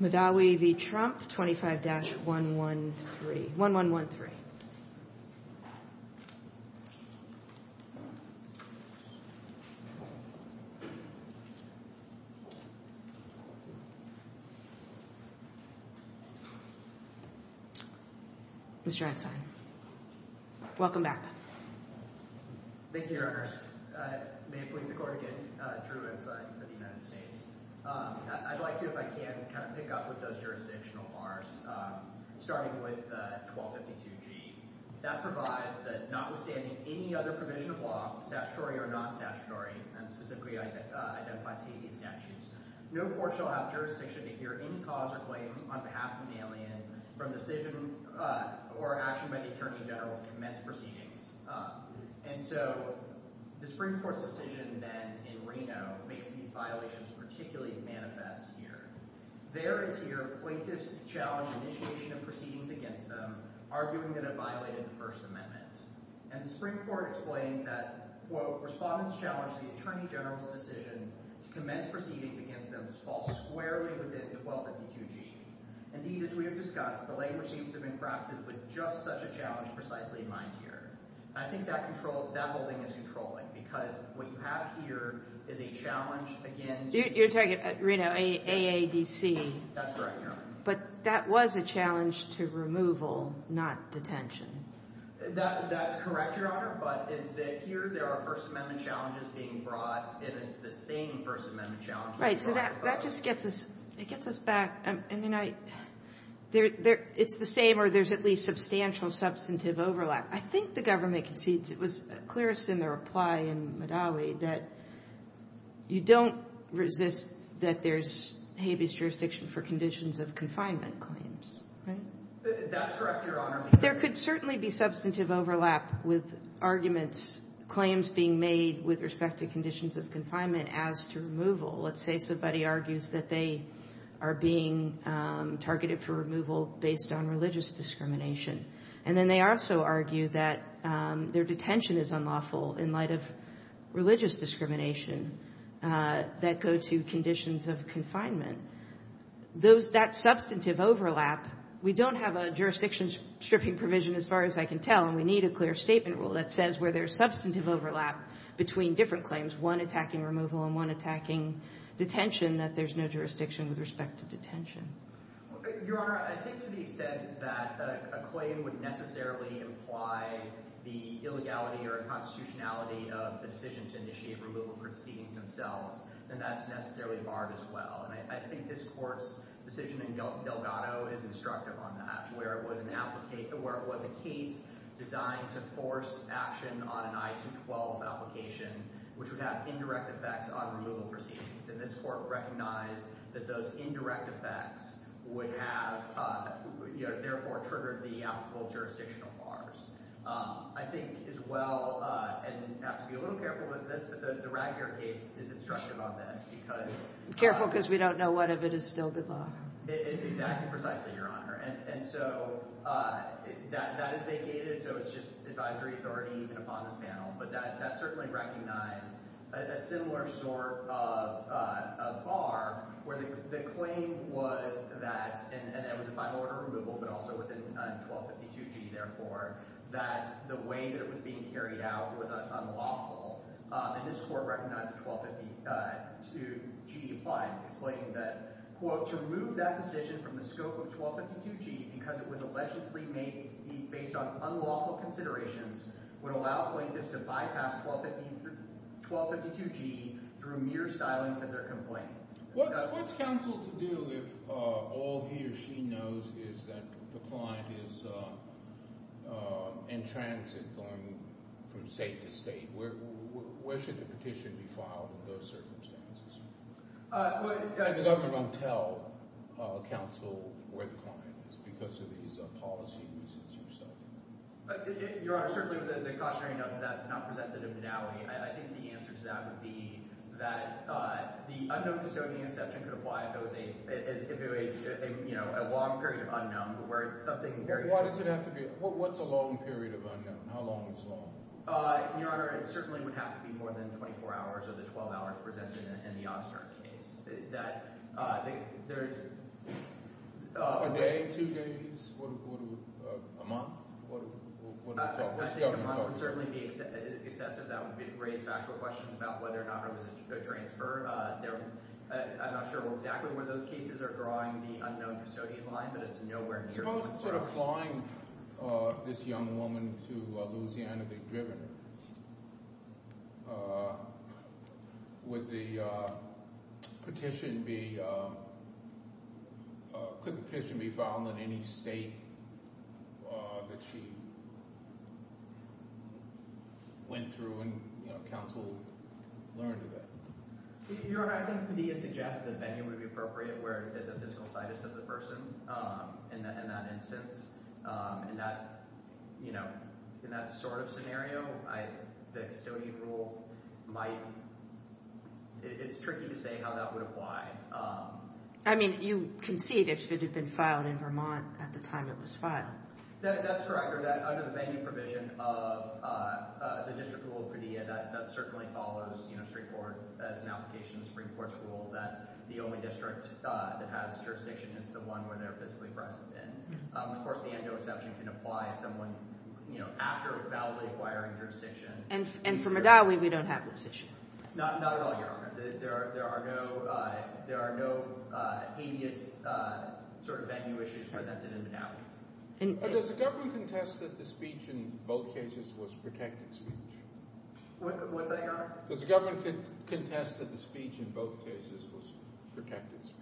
25-113, 1-1-1-3. Mr. Einstein. Welcome back. Thank you, Your Honors. May it please the Court again, I'm Drew Einstein for the United States. I'd like to, if I can, kind of pick up with those jurisdictional bars, starting with 1252G. That provides that notwithstanding any other provision of law, statutory or non-statutory, and specifically identifies Haiti's statutes, no court shall have jurisdiction to hear any cause or claim on behalf of an alien from decision or action by the Attorney General to commence proceedings. And so, the Supreme Court's decision then in Reno makes these violations particularly manifest here. There it is here. Appointees challenge initiation of proceedings against them, arguing that it violated the First Amendment. And the Supreme Court explained that, quote, respondents challenge the Attorney General's decision to commence proceedings against them to fall squarely within 1252G. Indeed, as we have discussed, the language seems to have been crafted with just such a challenge precisely in mind here. I think that whole thing is controlling because what you have here is a challenge, again, to— You're talking, Reno, AADC. That's correct, Your Honor. But that was a challenge to removal, not detention. That's correct, Your Honor, but here there are First Amendment challenges being brought, and it's the same First Amendment challenges— Right, so that just gets us back. I mean, it's the same, or there's at least substantial substantive overlap. I think the government concedes. It was clearest in the reply in Madawi that you don't resist that there's habeas jurisdiction for conditions of confinement claims, right? That's correct, Your Honor. There could certainly be substantive overlap with arguments, claims being made with respect to conditions of confinement as to removal. Let's say somebody argues that they are being targeted for removal based on religious discrimination, and then they also argue that their detention is unlawful in light of religious discrimination that go to conditions of confinement. That substantive overlap, we don't have a jurisdiction stripping provision as far as I can tell, and we need a clear statement rule that says where there's substantive overlap between different claims, one attacking removal and one attacking detention, that there's no jurisdiction with respect to detention. Your Honor, I think to the extent that a claim would necessarily imply the illegality or constitutionality of the decision to initiate removal proceedings themselves, then that's necessarily barred as well, and I think this Court's decision in Delgado is instructive on that, where it was a case designed to force action on an I-212 application, which would have indirect effects on removal proceedings, and this Court recognized that those indirect effects would have, therefore, triggered the applicable jurisdictional bars. I think as well, and I have to be a little careful with this, but the Ragger case is instructive on this. Careful because we don't know what if it is still the law. Exactly, precisely, Your Honor. And so that is vacated, so it's just advisory authority even upon this panel, but that certainly recognized a similar sort of bar where the claim was that, and that was a final order of removal but also within 1252G, therefore, that the way that it was being carried out was unlawful, and this Court recognized 1252G applying, explaining that, quote, to remove that decision from the scope of 1252G because it was allegedly made based on unlawful considerations would allow plaintiffs to bypass 1252G through mere silence of their complaint. What's counsel to do if all he or she knows is that the client is in transit going from state to state? Where should the petition be filed in those circumstances? And the government won't tell counsel where the client is because of these policy reasons yourself? Your Honor, certainly the cautionary note that that's not presented in modality. I think the answer to that would be that the unknown custodian exception could apply if it was a long period of unknown where it's something very short. What's a long period of unknown? How long is long? Your Honor, it certainly would have to be more than 24 hours of the 12-hour presented in the Ostern case. I think there's— A day, two days, a month? I think a month would certainly be excessive. That would raise factual questions about whether or not it was a transfer. I'm not sure exactly where those cases are drawing the unknown custodian line, but it's nowhere near— Suppose it's sort of flying this young woman to Louisiana. They've driven her. Would the petition be— Could the petition be filed in any state that she went through and counsel learned of that? Your Honor, I think Padilla suggested that venue would be appropriate where the physical sight is of the person in that instance. In that sort of scenario, the custodian rule might— It's tricky to say how that would apply. I mean, you concede it should have been filed in Vermont at the time it was filed. That's correct. Under the venue provision of the District Rule of Padilla, that certainly follows straightforward as an application of the Supreme Court's rule that the only district that has jurisdiction is the one where they're physically present. Of course, the end-no exception can apply if someone, you know, after validly acquiring jurisdiction— And for Madawi, we don't have this issue. Not at all, Your Honor. There are no hideous sort of venue issues presented in Madawi. Does the government contest that the speech in both cases was protected speech? What's that, Your Honor? Does the government contest that the speech in both cases was protected speech?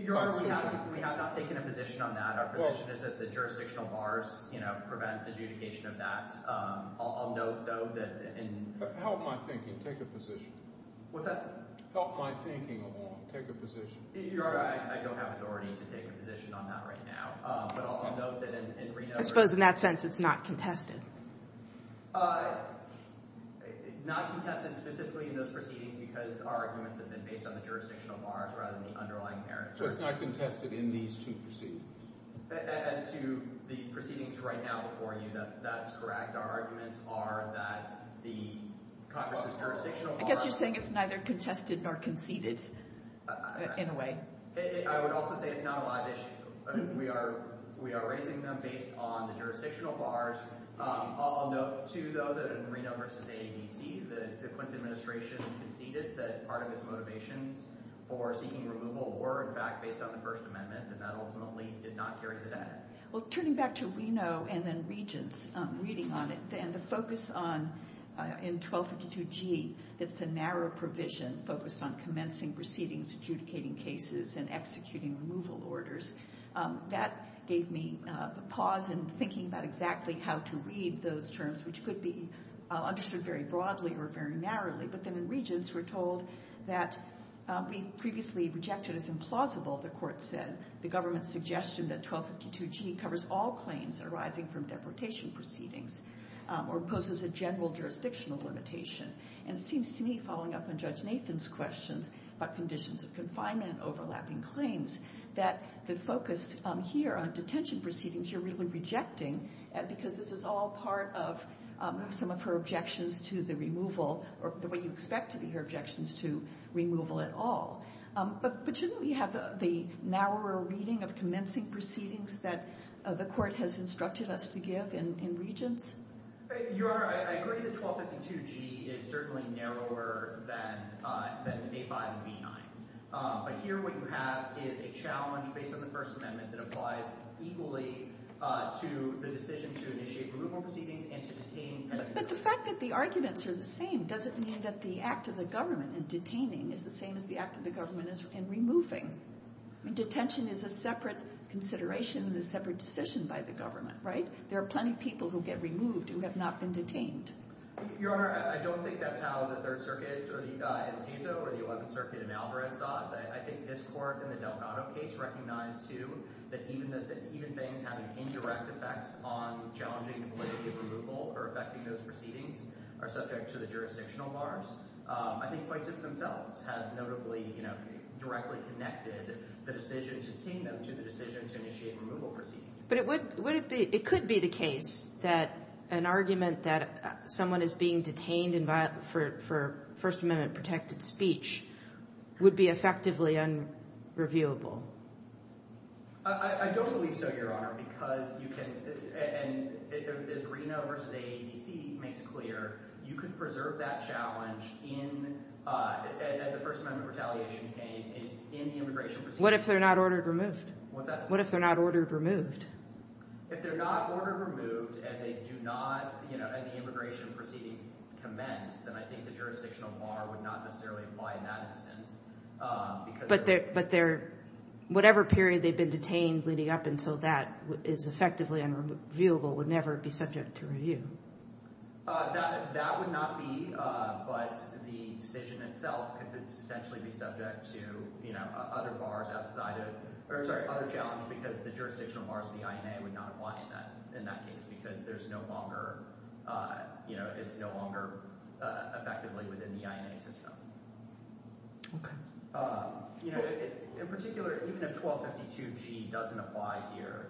Your Honor, we have not taken a position on that. Our position is that the jurisdictional bars, you know, prevent adjudication of that. I'll note, though, that in— Help my thinking. Take a position. What's that? Help my thinking a moment. Take a position. Your Honor, I don't have authority to take a position on that right now. But I'll note that in Reno— I suppose in that sense it's not contested. Not contested specifically in those proceedings because our arguments have been based on the jurisdictional bars rather than the underlying merits. So it's not contested in these two proceedings? As to these proceedings right now before you, that's correct. Our arguments are that the Congress's jurisdictional bars— I guess you're saying it's neither contested nor conceded in a way. I would also say it's not a live issue. We are raising them based on the jurisdictional bars. I'll note, too, though, that in Reno v. AADC, the Clinton administration conceded that part of its motivations for seeking removal were, in fact, based on the First Amendment, and that ultimately did not carry to that end. Well, turning back to Reno and then Regents, reading on it, and the focus on—in 1252G, that's a narrow provision focused on commencing proceedings, adjudicating cases, and executing removal orders. That gave me a pause in thinking about exactly how to read those terms, which could be understood very broadly or very narrowly. But then in Regents, we're told that we previously rejected as implausible, the Court said, the government's suggestion that 1252G covers all claims arising from deportation proceedings or poses a general jurisdictional limitation. And it seems to me, following up on Judge Nathan's questions about conditions of confinement and overlapping claims, that the focus here on detention proceedings you're really rejecting because this is all part of some of her objections to the removal, or what you expect to be her objections to removal at all. But shouldn't we have the narrower reading of commencing proceedings that the Court has instructed us to give in Regents? Your Honor, I agree that 1252G is certainly narrower than A5 and B9. But here what you have is a challenge based on the First Amendment that applies equally to the decision to initiate removal proceedings and to detain. But the fact that the arguments are the same doesn't mean that the act of the government in detaining is the same as the act of the government in removing. Detention is a separate consideration and a separate decision by the government, right? There are plenty of people who get removed who have not been detained. Your Honor, I don't think that's how the Third Circuit or the El Piso or the Eleventh Circuit in Alvarez thought. I think this Court in the Delgado case recognized, too, that even things having indirect effects on challenging the validity of removal or affecting those proceedings are subject to the jurisdictional bars. I think quite just themselves have notably directly connected the decision to detain them to the decision to initiate removal proceedings. But it could be the case that an argument that someone is being detained for First Amendment-protected speech would be effectively unreviewable. I don't believe so, Your Honor, because you can— as Reno v. AADC makes clear, you could preserve that challenge as a First Amendment retaliation case in the immigration proceedings. What if they're not ordered removed? What's that? What if they're not ordered removed? If they're not ordered removed and they do not— and the immigration proceedings commence, then I think the jurisdictional bar would not necessarily apply in that instance. But their—whatever period they've been detained leading up until that is effectively unreviewable would never be subject to review. That would not be, but the decision itself could potentially be subject to other bars outside of—or, sorry, other challenge because the jurisdictional bars of the INA would not apply in that case because there's no longer—it's no longer effectively within the INA system. Okay. In particular, even if 1252G doesn't apply here,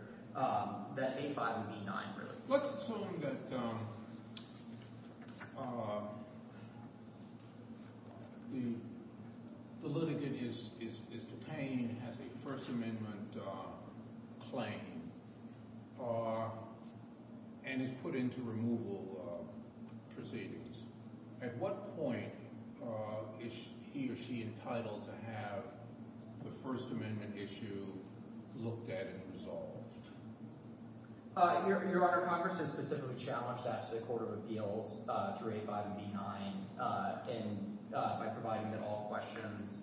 that 85 would be 9, really. Let's assume that the litigant is detained, has a First Amendment claim, and is put into removal proceedings. At what point is he or she entitled to have the First Amendment issue looked at and resolved? Your Honor, Congress has specifically challenged that to the Court of Appeals through A5 and B9 by providing that all questions,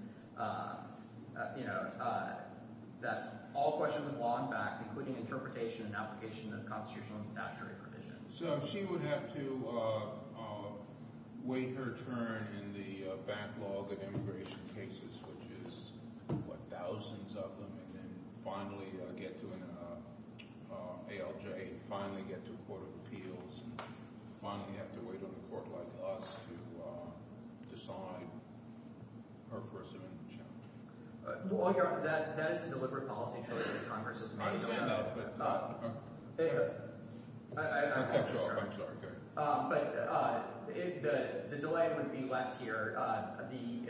you know, that all questions of law and fact, including interpretation and application of constitutional and statutory provisions. So she would have to wait her turn in the backlog of immigration cases, which is, what, thousands of them, and then finally get to an ALJ and finally get to a Court of Appeals and finally have to wait on a court like us to decide her First Amendment challenge. Well, Your Honor, that is a deliberate policy choice that Congress is making. I understand that, but— I'm sorry. I'm sorry. But the delay would be less here. The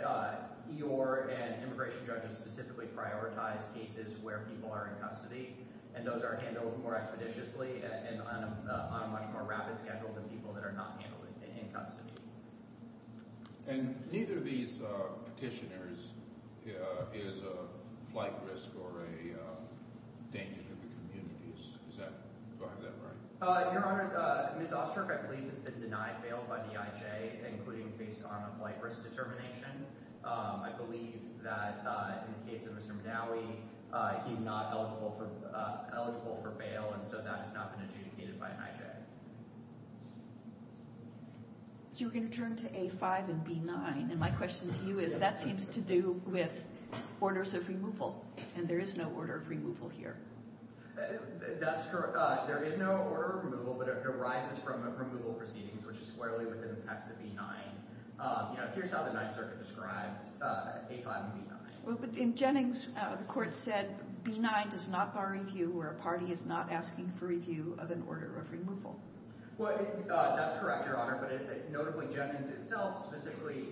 E.O.R. and immigration judges specifically prioritize cases where people are in custody, and those are handled more expeditiously and on a much more rapid schedule than people that are not handled in custody. And neither of these petitioners is a flight risk or a danger to the communities. Is that right? Your Honor, Ms. Osterhof, I believe it's been denied bail by the IJ, including based on a flight risk determination. I believe that in the case of Mr. Madawi, he's not eligible for bail, and so that has not been adjudicated by an IJ. So we're going to turn to A5 and B9. And my question to you is that seems to do with orders of removal, and there is no order of removal here. That's correct. There is no order of removal, but it arises from removal proceedings, which is squarely within the text of B9. Here's how the Ninth Circuit describes A5 and B9. Well, but in Jennings, the court said B9 does not bar review where a party is not asking for review of an order of removal. Well, that's correct, Your Honor. But notably, Jennings itself specifically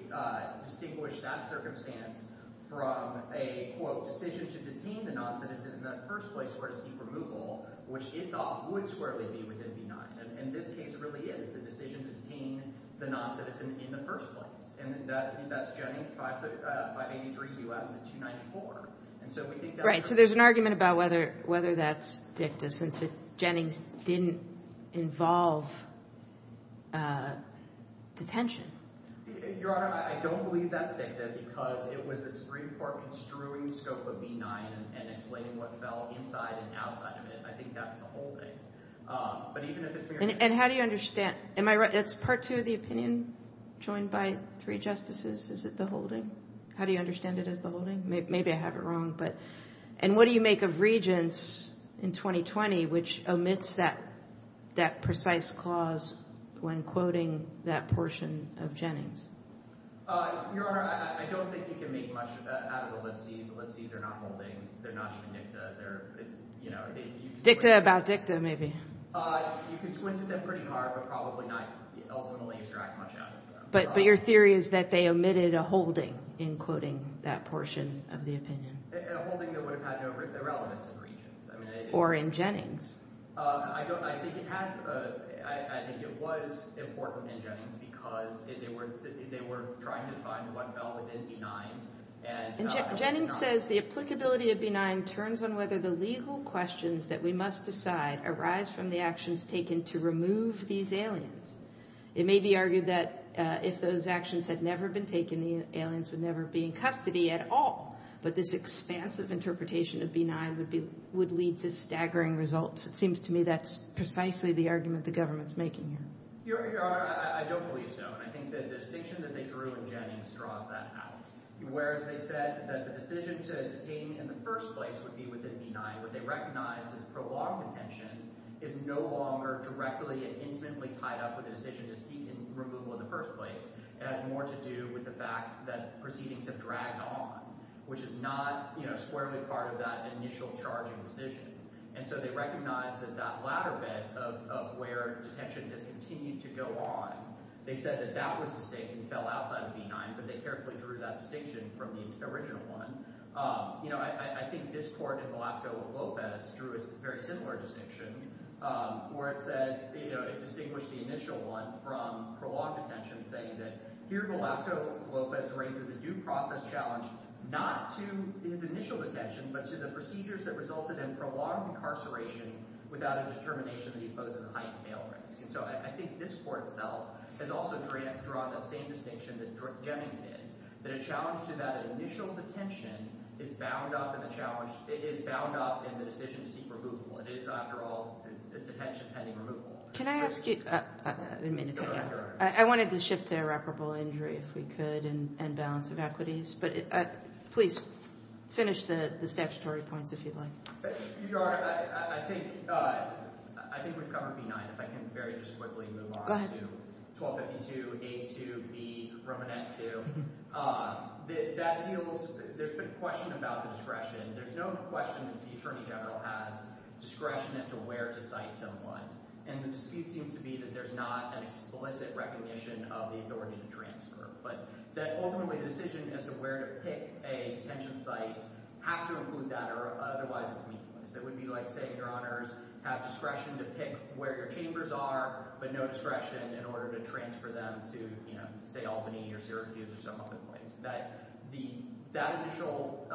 distinguished that circumstance from a, quote, decision to detain the noncitizen in the first place or to seek removal, which it thought would squarely be within B9. And this case really is a decision to detain the noncitizen in the first place, and that's Jennings 583 U.S. 294. Right, so there's an argument about whether that's dicta since Jennings didn't involve detention. Your Honor, I don't believe that's dicta because it was the Supreme Court construing scope of B9 and explaining what fell inside and outside of it. I think that's the holding. And how do you understand? It's part two of the opinion joined by three justices. Is it the holding? How do you understand it as the holding? Maybe I have it wrong. And what do you make of Regents in 2020, which omits that precise clause when quoting that portion of Jennings? Your Honor, I don't think you can make much out of ellipses. Ellipses are not holdings. They're not even dicta. Dicta about dicta, maybe. You can squint at them pretty hard, but probably not ultimately extract much out of them. But your theory is that they omitted a holding in quoting that portion of the opinion. A holding that would have had no relevance in Regents. Or in Jennings. I think it was important in Jennings because they were trying to find what fell within B9. Jennings says the applicability of B9 turns on whether the legal questions that we must decide arise from the actions taken to remove these aliens. It may be argued that if those actions had never been taken, the aliens would never be in custody at all, but this expansive interpretation of B9 would lead to staggering results. It seems to me that's precisely the argument the government's making here. Your Honor, I don't believe so. And I think the distinction that they drew in Jennings draws that out. Whereas they said that the decision to detain in the first place would be within B9, what they recognize is prolonged detention is no longer directly and intimately tied up with the decision to seek removal in the first place. It has more to do with the fact that proceedings have dragged on. Which is not squarely part of that initial charging decision. And so they recognize that that latter bit of where detention has continued to go on, they said that that was the distinction that fell outside of B9, but they carefully drew that distinction from the original one. I think this court in Velasco-Lopez drew a very similar distinction where it said it distinguished the initial one from prolonged detention saying that here Velasco-Lopez raises a due process challenge not to his initial detention but to the procedures that resulted in prolonged incarceration without a determination that he poses a heightened male risk. And so I think this court itself has also drawn that same distinction that Jennings did. That a challenge to that initial detention is bound up in the decision to seek removal. It is, after all, detention pending removal. Can I ask you... I wanted to shift to irreparable injury, if we could, and balance of equities. But please, finish the statutory points, if you'd like. Your Honor, I think we've covered B9. If I can very just quickly move on to 1252, A2, B, Romanet 2. That deals... There's been a question about the discretion. There's no question that the Attorney General has discretion as to where to cite someone. And the dispute seems to be that there's not an explicit recognition of the authority to transfer. But ultimately, the decision as to where to pick a detention site has to include that, or otherwise it's needless. It would be like saying, Your Honors, have discretion to pick where your chambers are, but no discretion in order to transfer them to, say, Albany or Syracuse or some other place. That initial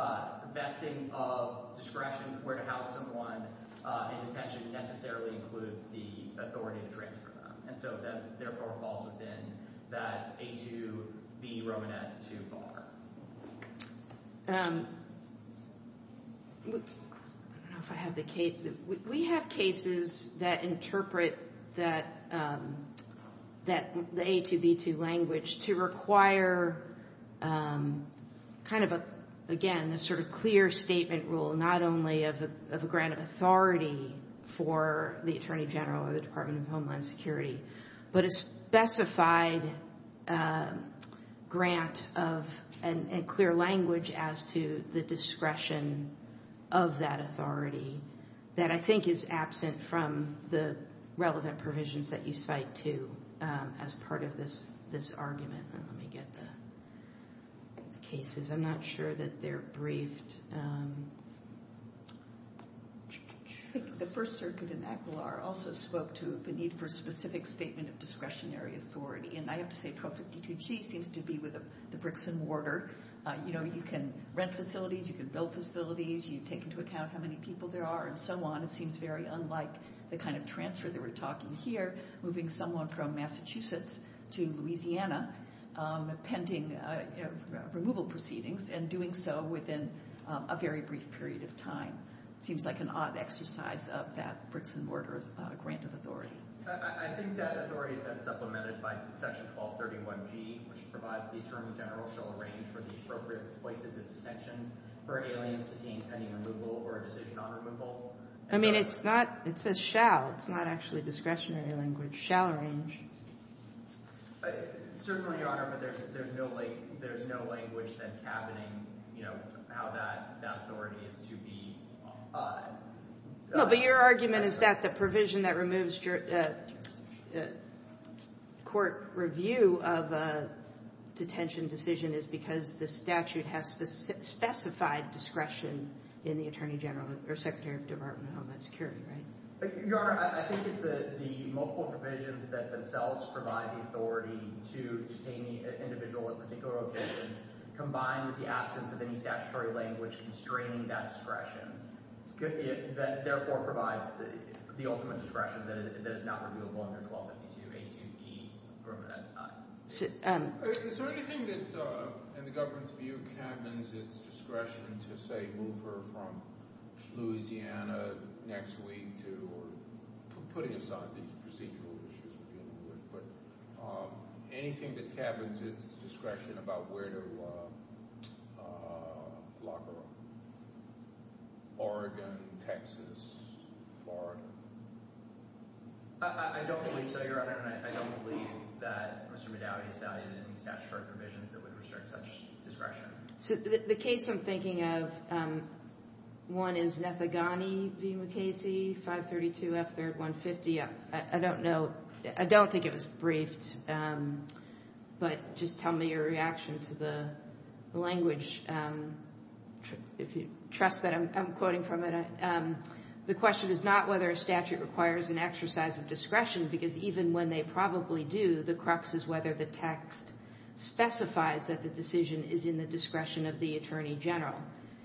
vesting of discretion where to house someone in detention necessarily includes the authority to transfer them. And so, therefore, falls within that A2, B, Romanet 2 bar. I don't know if I have the case. We have cases that interpret that A2, B2 language to require kind of, again, a sort of clear statement rule, not only of a grant of authority for the Attorney General or the Department of Homeland Security, but a specified grant of a clear language as to the discretion of that authority that I think is absent from the relevant provisions that you cite, too, as part of this argument. Let me get the cases. I'm not sure that they're briefed. I think the First Circuit in Aquilar also spoke to the need for a specific statement of discretionary authority, and I have to say 1252G seems to be with the bricks and mortar. You know, you can rent facilities, you can build facilities, you take into account how many people there are and so on. It seems very unlike the kind of transfer that we're talking here, moving someone from Massachusetts to Louisiana pending removal proceedings and doing so within a very brief period of time. It seems like an odd exercise of that bricks and mortar grant of authority. I think that authority has been supplemented by Section 1231G, which provides the Attorney General shall arrange for the appropriate places of detention for aliens to deem pending removal or a decision on removal. I mean, it's not. It says shall. It's not actually discretionary language. Shall arrange. Certainly, Your Honor, there's no language that's happening, you know, how that authority is to be applied. No, but your argument is that the provision that removes court review of a detention decision is because the statute has specified discretion in the Attorney General or Secretary of Department of Homeland Security, right? Your Honor, I think it's the multiple provisions that themselves provide the authority to detain the individual at particular locations combined with the absence of any statutory language constraining that discretion. That therefore provides the ultimate discretion that is not reviewable under 1252A2E from that time. Is there anything that, in the government's view, cabins its discretion to, say, move her from Louisiana next week or putting aside these procedural issues, but anything that cabins its discretion about where to lock her up? Oregon, Texas, Florida? I don't believe so, Your Honor, and I don't believe that Mr. McDowdy cited any statutory provisions that would restrict such discretion. The case I'm thinking of, one is Nethegani v. McKasey, 532 F3rd 150. I don't know. I don't think it was briefed, but just tell me your reaction to the language if you trust that I'm quoting from it. The question is not whether a statute requires an exercise of discretion, because even when they probably do, the crux is whether the text specifies that the decision is in the discretion of the Attorney General.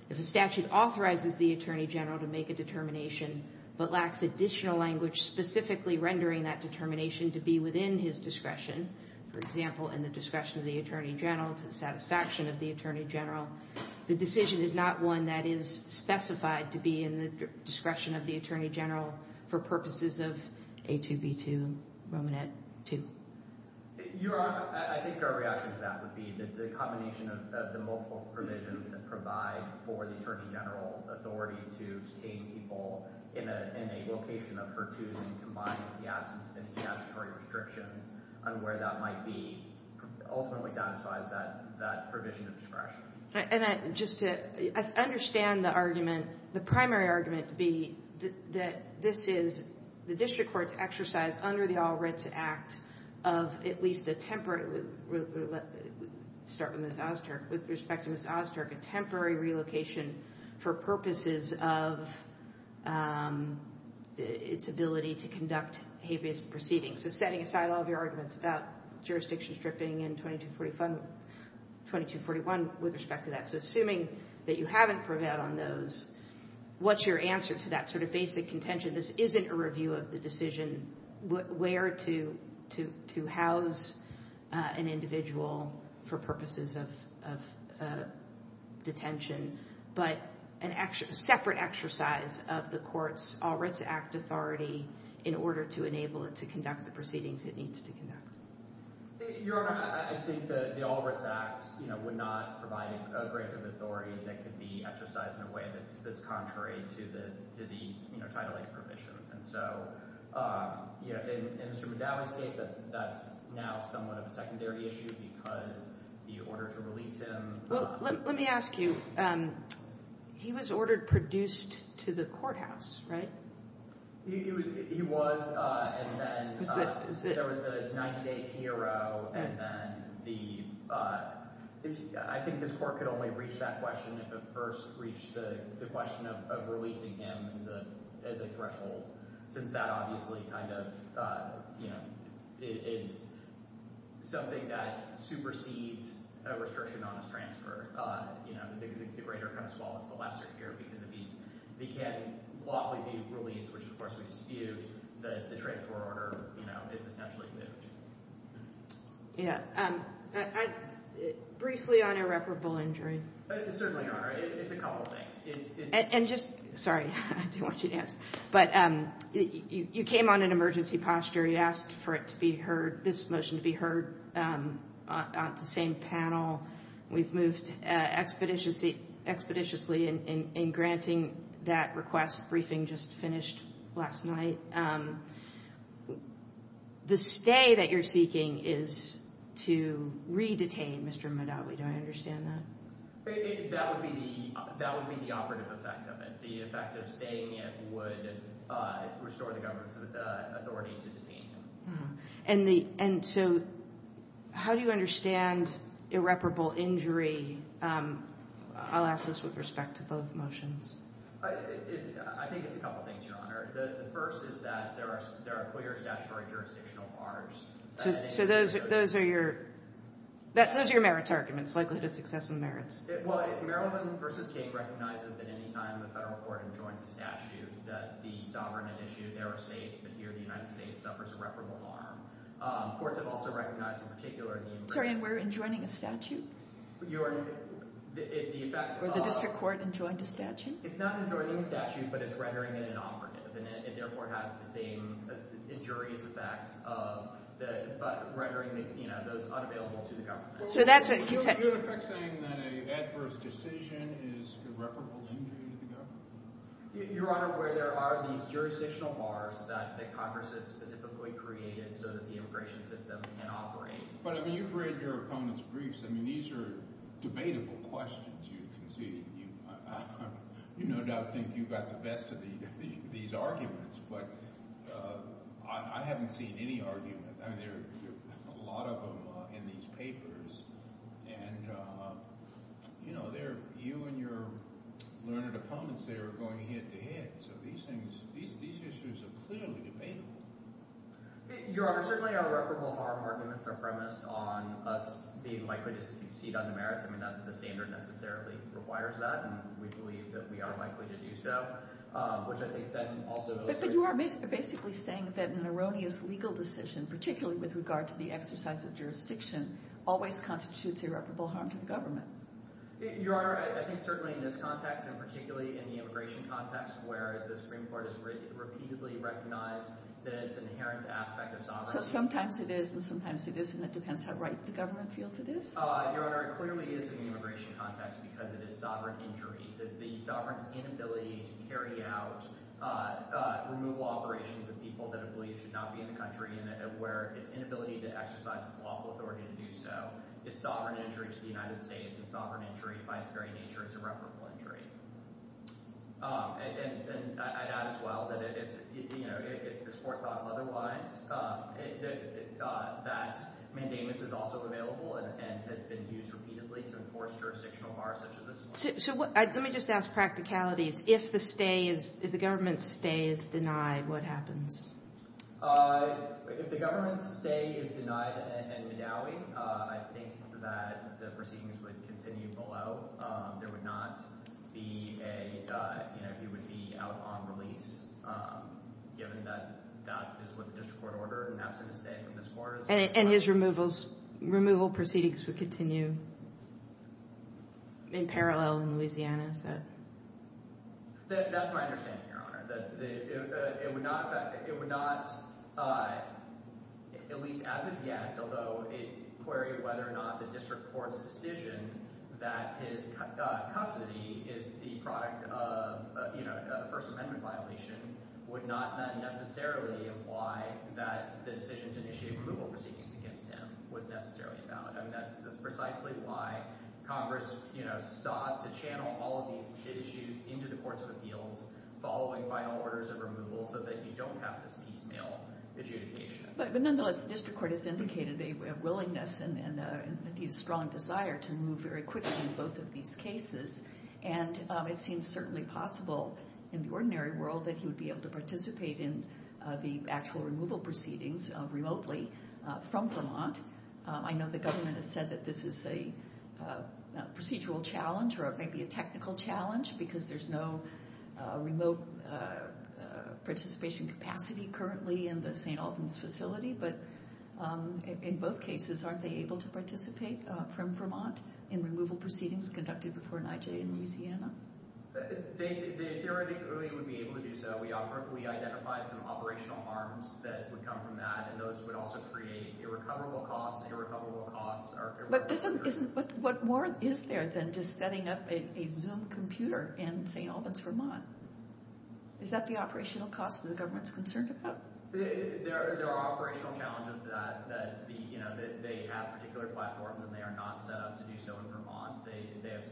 If a statute authorizes the Attorney General to make a determination, but lacks additional language specifically rendering that determination to be within his discretion, for example, in the discretion of the Attorney General to the satisfaction of the Attorney General, the decision is not one that is specified to be in the discretion of the Attorney General for purposes of A2B2 and Romanet 2. Your Honor, I think our reaction to that would be that the combination of the multiple provisions that provide for the Attorney General authority to detain people in a location of her choosing combined with the absence of any statutory restrictions on where that might be ultimately satisfies that provision of discretion. And just to understand the argument, the primary argument would be that this is the district court's exercise under the All Writs Act of at least a temporary... Let's start with Ms. Ozturk. With respect to Ms. Ozturk, a temporary relocation for purposes of its ability to conduct habeas proceedings. So setting aside all of your arguments about jurisdiction stripping in 2241 with respect to that. So assuming that you haven't prevailed on those, what's your answer to that sort of basic contention? This isn't a review of the decision where to house an individual for purposes of detention, but a separate exercise of the court's All Writs Act authority in order to enable it to conduct the proceedings it needs to conduct. Your Honor, I think the All Writs Act would not provide a grant of authority that could be exercised in a way that's contrary to the titling provisions. And so in Mr. Madawi's case, that's now somewhat of a secondary issue because the order to release him... Well, let me ask you. He was ordered produced to the courthouse, right? He was, and then there was the 90-day TRO, and then the... I think this court could only reach that question if it first reached the question of releasing him as a threshold, since that obviously is something that supersedes a restriction on his transfer. The greater comes to all is the lesser here because if he can lawfully be released, which of course we dispute, the transfer order is essentially moved. Briefly on irreparable injury. Certainly, Your Honor. It's a couple of things. And just... Sorry, I do want you to answer. But you came on in emergency posture. You asked for this motion to be heard on the same panel. We've moved expeditiously in granting that request. Briefing just finished last night. The stay that you're seeking is to re-detain Mr. Madawi. Do I understand that? That would be the operative effect of it. The effect of staying it would restore the government's authority to detain him. And so how do you understand irreparable injury? I'll ask this with respect to both motions. I think it's a couple of things, Your Honor. The first is that there are clear statutory jurisdictional bars. So those are your... Those are your merits arguments. Likelihood of success and merits. Well, Maryland v. King recognizes that any time the federal court enjoins a statute that the sovereign and issued error states that here the United States suffers irreparable harm. Courts have also recognized in particular... Sorry, and we're enjoining a statute? Your Honor, the effect of... Or the district court enjoined a statute? It's not enjoining a statute, but it's rendering it inoperative. It therefore has the same injurious effects but rendering those unavailable to the government. So that's a... Is there an effect saying that an adverse decision is irreparable injury to the government? Your Honor, where there are these jurisdictional bars that Congress has specifically created so that the immigration system can operate. But, I mean, you've read your opponent's briefs. I mean, these are debatable questions, you can see. You no doubt think you got the best of these arguments, but I haven't seen any argument. I mean, there are a lot of them in these papers. And, you know, you and your learned opponents are going head-to-head, so these issues are clearly debatable. Your Honor, certainly irreparable harm arguments are premised on us being likely to succeed on the merits. I mean, the standard necessarily requires that, and we believe that we are likely to do so, which I think then also goes to... But you are basically saying that an erroneous legal decision, particularly with regard to the exercise of jurisdiction, always constitutes irreparable harm to the government. Your Honor, I think certainly in this context and particularly in the immigration context where the Supreme Court has repeatedly recognized that it's an inherent aspect of sovereignty... So sometimes it is and sometimes it isn't. It depends how right the government feels it is. Your Honor, it clearly is in the immigration context because it is sovereign injury. The sovereign's inability to carry out removal operations of people that it believes should not be in the country and where its inability to exercise its lawful authority to do so is sovereign injury to the United States, and sovereign injury by its very nature is irreparable injury. And I'd add as well that, you know, if this Court thought otherwise, that mandamus is also available and has been used repeatedly to enforce jurisdictional bars... So let me just ask practicalities. If the stay is... If the government's stay is denied, what happens? If the government's stay is denied and medallied, I think that the proceedings would continue below. There would not be a... You know, he would be out on release given that that is what the district court ordered and absent a stay from this Court... And his removal proceedings would continue in parallel in Louisiana, is that...? That's my understanding, Your Honor. It would not affect... It would not, at least as of yet, although a query of whether or not the district court's decision that his custody is the product of a First Amendment violation would not necessarily imply that the decision to initiate removal proceedings against him was necessarily about... I mean, that's precisely why Congress, you know, sought to channel all of these issues into the courts of appeals following final orders of removal so that you don't have this piecemeal adjudication. But nonetheless, the district court has indicated a willingness and indeed a strong desire to move very quickly in both of these cases. And it seems certainly possible in the ordinary world that he would be able to participate in the actual removal proceedings remotely from Vermont. I know the government has said that this is a procedural challenge or maybe a technical challenge because there's no remote participation capacity currently in the St. Albans facility. But in both cases, aren't they able to participate from Vermont in removal proceedings conducted before NIJ in Louisiana? They theoretically would be able to do so. We identified some operational harms that would come from that and those would also create irrecoverable costs. Irrecoverable costs are... But what more is there than just setting up a Zoom computer in St. Albans, Vermont? Is that the operational cost that the government's concerned about? There are operational challenges to that. You know, they have particular platforms and they are not set up to do so in Vermont. They have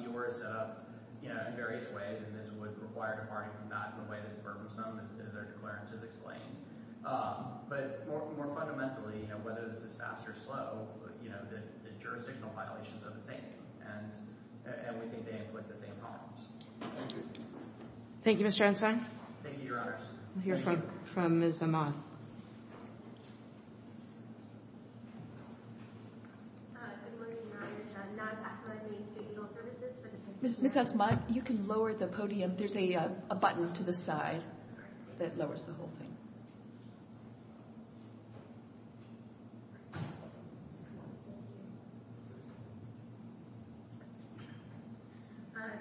EORs set up in various ways and this would require departing from that in a way that's burdensome, as our declarances explain. But more fundamentally, whether this is fast or slow, the jurisdictional violations are the same and we think they inflict the same harms. Thank you. Thank you, Mr. Ensign. Thank you, Your Honors. We'll hear from Ms. Amath. Ms. Amath, you can lower the podium. There's a button to the side that lowers the whole thing.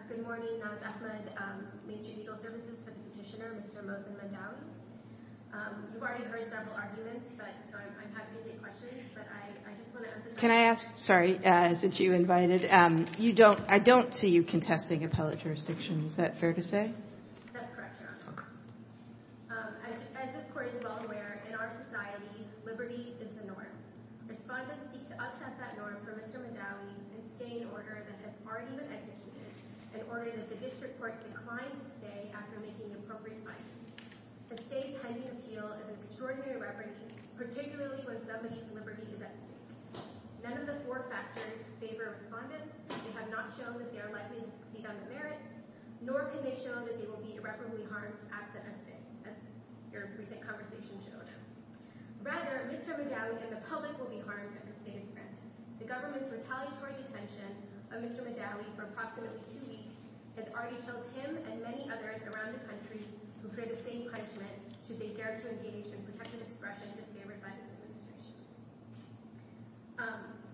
Good morning, Your Honors. Naz Ahmed, Main Street Legal Services. This is Petitioner Mr. Mohsen Mondawi. You are the first petitioner in the State of Louisiana I've already heard several arguments, so I'm happy to take questions. Can I ask, sorry, since you invited, I don't see you contesting appellate jurisdiction. Is that fair to say? That's correct, Your Honor. Okay. As this Court is well aware, in our society, liberty is the norm. Respondents seek to upset that norm for Mr. Mondawi and stay in order that has already been executed in order that the District Court decline to stay after making the appropriate findings. The State's pending appeal is an extraordinary reberry, particularly when somebody's liberty is at stake. None of the four factors favor Respondents. They have not shown that they are likely to succeed on the merits, nor can they show that they will be irreparably harmed to act as their present conversation showed. Rather, Mr. Mondawi and the public will be harmed if the State is granted. The government's retaliatory detention of Mr. Mondawi for approximately two weeks has already killed him and many others around the country who pray the same punishment should they dare to engage in protective expression disfavored by this Administration.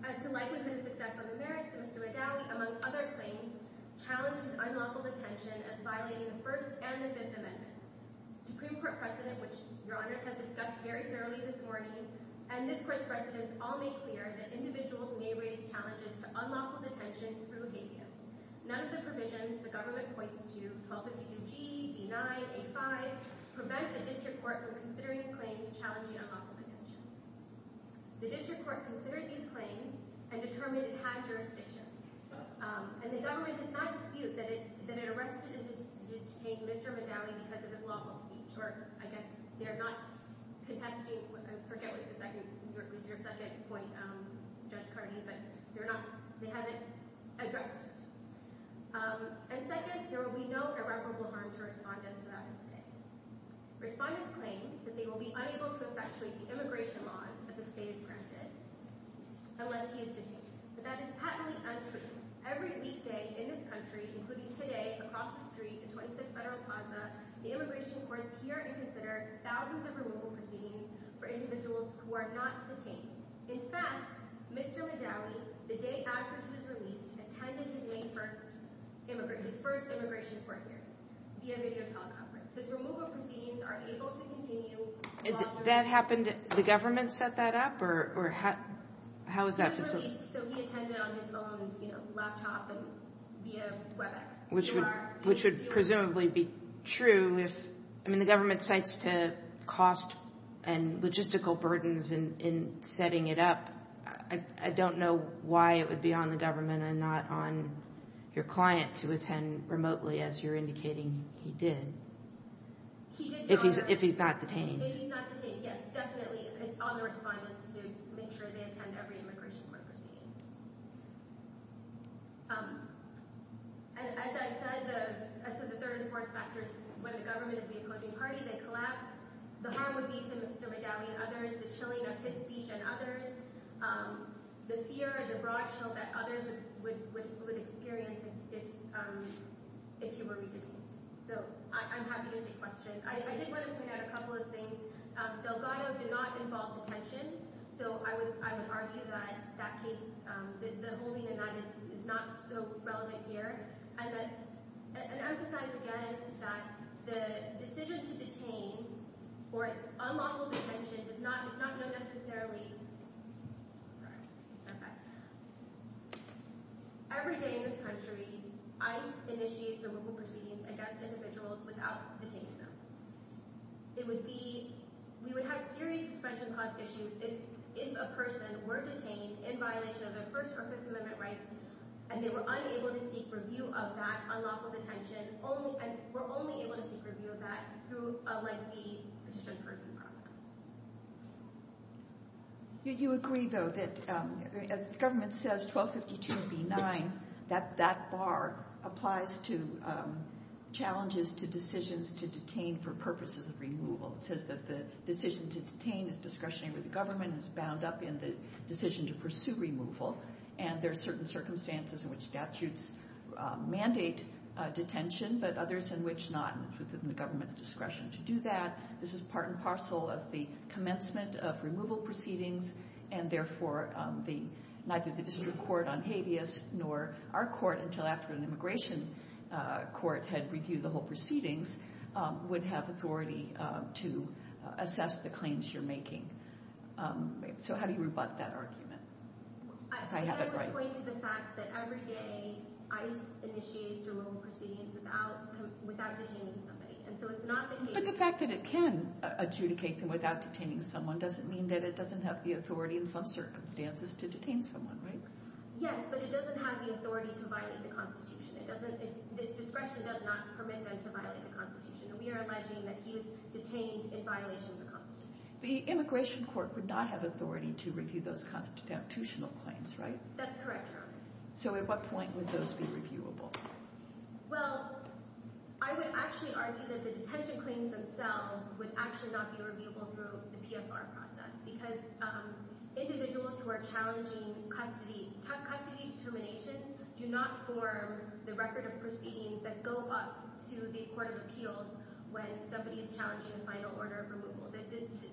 As to likelihood of success on the merits, Mr. Mondawi, among other claims, challenges unlawful detention as violating the First and the Fifth Amendment. The Supreme Court precedent, which Your Honors have discussed very thoroughly this morning, and this Court's precedents all make clear that individuals may raise challenges to unlawful detention through habeas. None of the provisions the government points to, 1252G, B-9, A-5, prevent the District Court from considering claims challenging unlawful detention. The District Court considered these claims and determined it had jurisdiction. And the government does not dispute that it arrested and detained Mr. Mondawi because of his lawful speech. Or, I guess, they're not contesting, I forget what your second point, Judge Carney, but they haven't addressed it. And second, there will be no irreparable harm to respondents without a state. Respondents claim that they will be unable to effectuate the immigration laws that the state has granted unless he is detained. But that is patently untrue. Every weekday in this country, including today, across the street in 26 Federal Plaza, the Immigration Courts hear and consider thousands of removal proceedings for individuals who are not detained. In fact, Mr. Mondawi, the day after he was released, attended his first immigration court hearing via videoteleconference. His removal proceedings are able to continue longer. That happened, the government set that up? Or how is that facilitated? He was released, so he attended on his own laptop and via WebEx. Which would presumably be true if, I mean, the government cites to cost and logistical burdens in setting it up. I don't know why it would be on the government and not on your client to attend remotely, as you're indicating he did. If he's not detained. If he's not detained, yes, definitely. It's on the respondents to make sure they attend every immigration court proceeding. As I've said, the third and fourth factors, when the government is the opposing party, they collapse. The harm would be to Mr. Mondawi and others. The chilling of his speech and others. The fear and the broad show that others would experience if he were re-detained. So, I'm happy to take questions. I did want to point out a couple of things. Delgado did not involve detention, so I would argue that the holding of that is not so relevant here. And emphasize again that the decision to detain, or unlawful detention, is not known necessarily. Every day in this country, ICE initiates a local proceeding against individuals without detaining them. We would have serious suspension cost issues if a person were detained in violation of their First or Fifth Amendment rights, and they were unable to seek review of that unlawful detention. We're only able to seek review of that through a lengthy petition-proving process. You agree, though, that the government says 1252B9, that that bar applies to challenges to decisions to detain for purposes of removal. It says that the decision to detain is discretionary with the government. It's bound up in the decision to pursue removal. And there are certain circumstances in which statutes mandate detention, but others in which not within the government's discretion to do that. This is part and parcel of the commencement of removal proceedings, and therefore neither the District Court on Habeas, nor our court until after an immigration court had reviewed the whole proceedings, would have authority to assess the claims you're making. So, how do you rebut that argument? I would point to the fact that every day ICE initiates removal proceedings without detaining somebody. But the fact that it can adjudicate them without detaining someone doesn't mean that it doesn't have the authority in some circumstances to detain someone, right? Yes, but it doesn't have the authority to violate the Constitution. This discretion does not permit them to violate the Constitution. We are alleging that he is detained in violation of the Constitution. The immigration court would not have authority to review those constitutional claims, right? That's correct, Your Honor. So at what point would those be reviewable? Well, I would actually argue that the detention claims themselves would actually not be reviewable through the PFR process, because individuals who are challenging custody determinations do not form the record of proceedings that go up to the Court of Appeals when somebody is challenging a final order of removal. The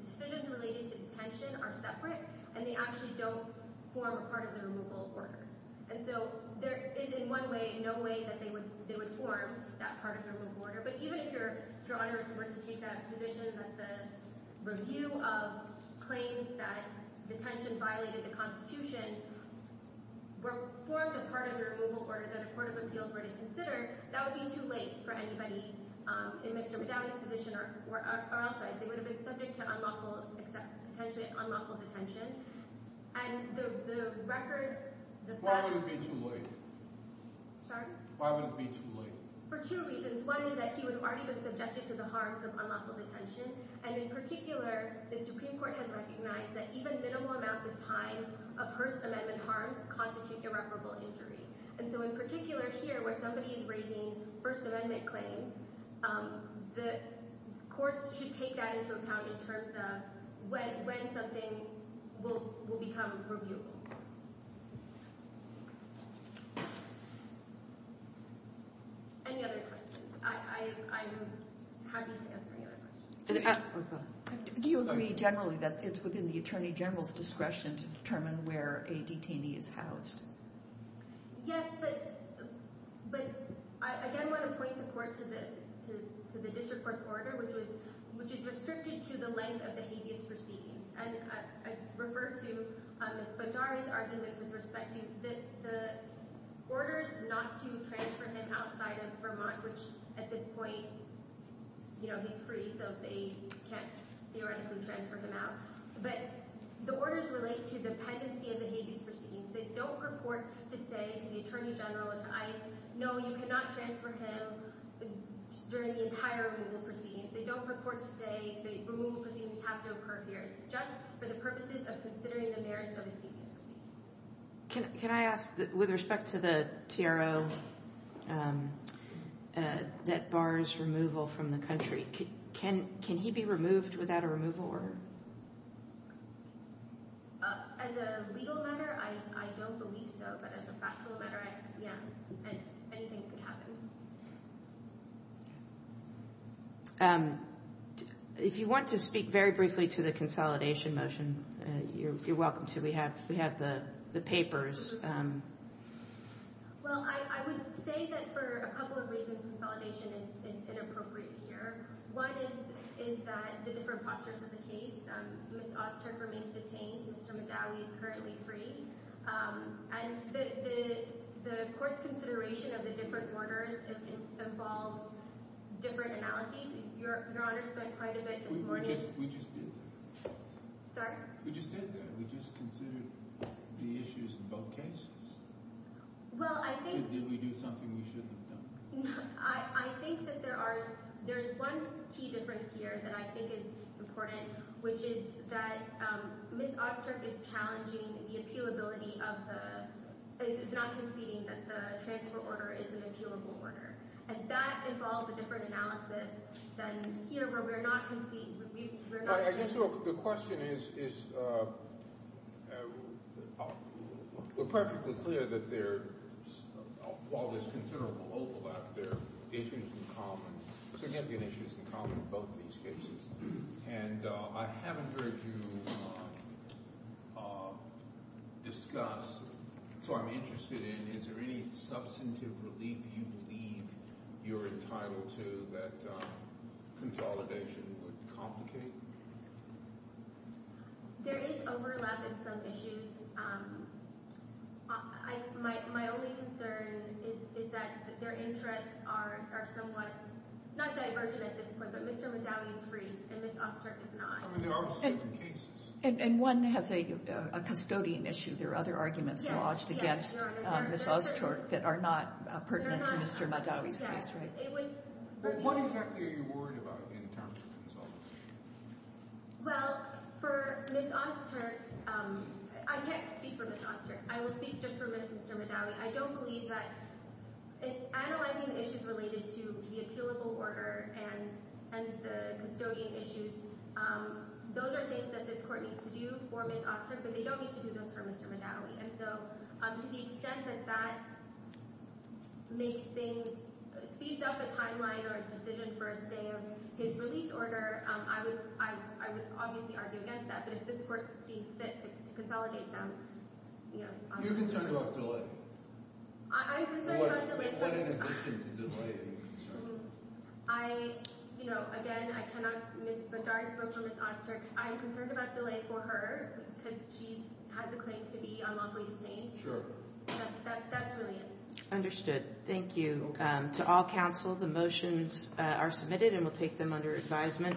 decisions related to detention are separate, and they actually don't form a part of the removal order. And so there is, in one way, no way that they would form that part of the removal order. But even if Your Honor were to take that position that the review of claims that detention violated the Constitution were formed a part of the removal order that a Court of Appeals were to consider, that would be too late for anybody in Mr. McDowney's position or outside. They would have been subject to potentially unlawful detention. And the record— Why would it be too late? Sorry? Why would it be too late? For two reasons. One is that he would have already been subjected to the harms of unlawful detention. And in particular, the Supreme Court has recognized that even minimal amounts of time of First Amendment harms constitute irreparable injury. And so in particular here, where somebody is raising First Amendment claims, the courts should take that into account in terms of when something will become reviewable. Any other questions? I'm happy to answer any other questions. Do you agree generally that it's within the Attorney General's discretion to determine where a detainee is housed? Yes, but I again want to point the Court to the District Court's order, which is restricted to the length of the habeas proceedings. And I refer to Ms. Bondari's arguments with respect to the orders not to transfer him outside of Vermont, which at this point, you know, he's free, so they can't theoretically transfer him out. But the orders relate to the pendency of the habeas proceedings. They don't purport to say to the Attorney General, to ICE, no, you cannot transfer him during the entire legal proceedings. They don't purport to say the removal proceedings have to occur here. It's just for the purposes of considering the merits of the habeas proceedings. Can I ask, with respect to the TRO that bars removal from the country, can he be removed without a removal order? As a legal matter, I don't believe so. But as a factual matter, yeah, anything can happen. If you want to speak very briefly to the consolidation motion, you're welcome to. We have the papers. Well, I would say that for a couple of reasons consolidation is inappropriate here. One is that the different postures of the case. Ms. Osterk remains detained. Mr. Madawi is currently free. And the court's consideration of the different orders involves different analyses. Your Honor spent quite a bit this morning. We just did that. Sorry? We just did that. We just considered the issues in both cases. Well, I think – Did we do something we shouldn't have done? I think that there is one key difference here that I think is important, which is that Ms. Osterk is challenging the appealability of the – is not conceding that the transfer order is an appealable order. And that involves a different analysis than here where we're not conceding. I guess the question is we're perfectly clear that there – while there's considerable overlap, there are issues in common. So again, there are issues in common in both of these cases. And I haven't heard you discuss. So I'm interested in is there any substantive relief you believe you're entitled to so that consolidation would complicate? There is overlap in some issues. My only concern is that their interests are somewhat – not divergent at this point, but Mr. Madawi is free and Ms. Osterk is not. I mean, there are certain cases. And one has a custodian issue. There are other arguments lodged against Ms. Osterk that are not pertinent to Mr. Madawi's case, right? But what exactly are you worried about in terms of consolidation? Well, for Ms. Osterk – I can't speak for Ms. Osterk. I will speak just for Mr. Madawi. I don't believe that – analyzing the issues related to the appealable order and the custodian issues, those are things that this court needs to do for Ms. Osterk, but they don't need to do those for Mr. Madawi. And so to the extent that that makes things – speeds up a timeline or a decision for a stay of his release order, I would obviously argue against that. But if this court deems fit to consolidate them – You're concerned about delay? I'm concerned about delay. What in addition to delay are you concerned about? I – you know, again, I cannot – Ms. Madawi spoke for Ms. Osterk. I'm concerned about delay for her because she has a claim to be unlawfully detained. That's really it. Understood. Thank you. To all counsel, the motions are submitted and we'll take them under advisement.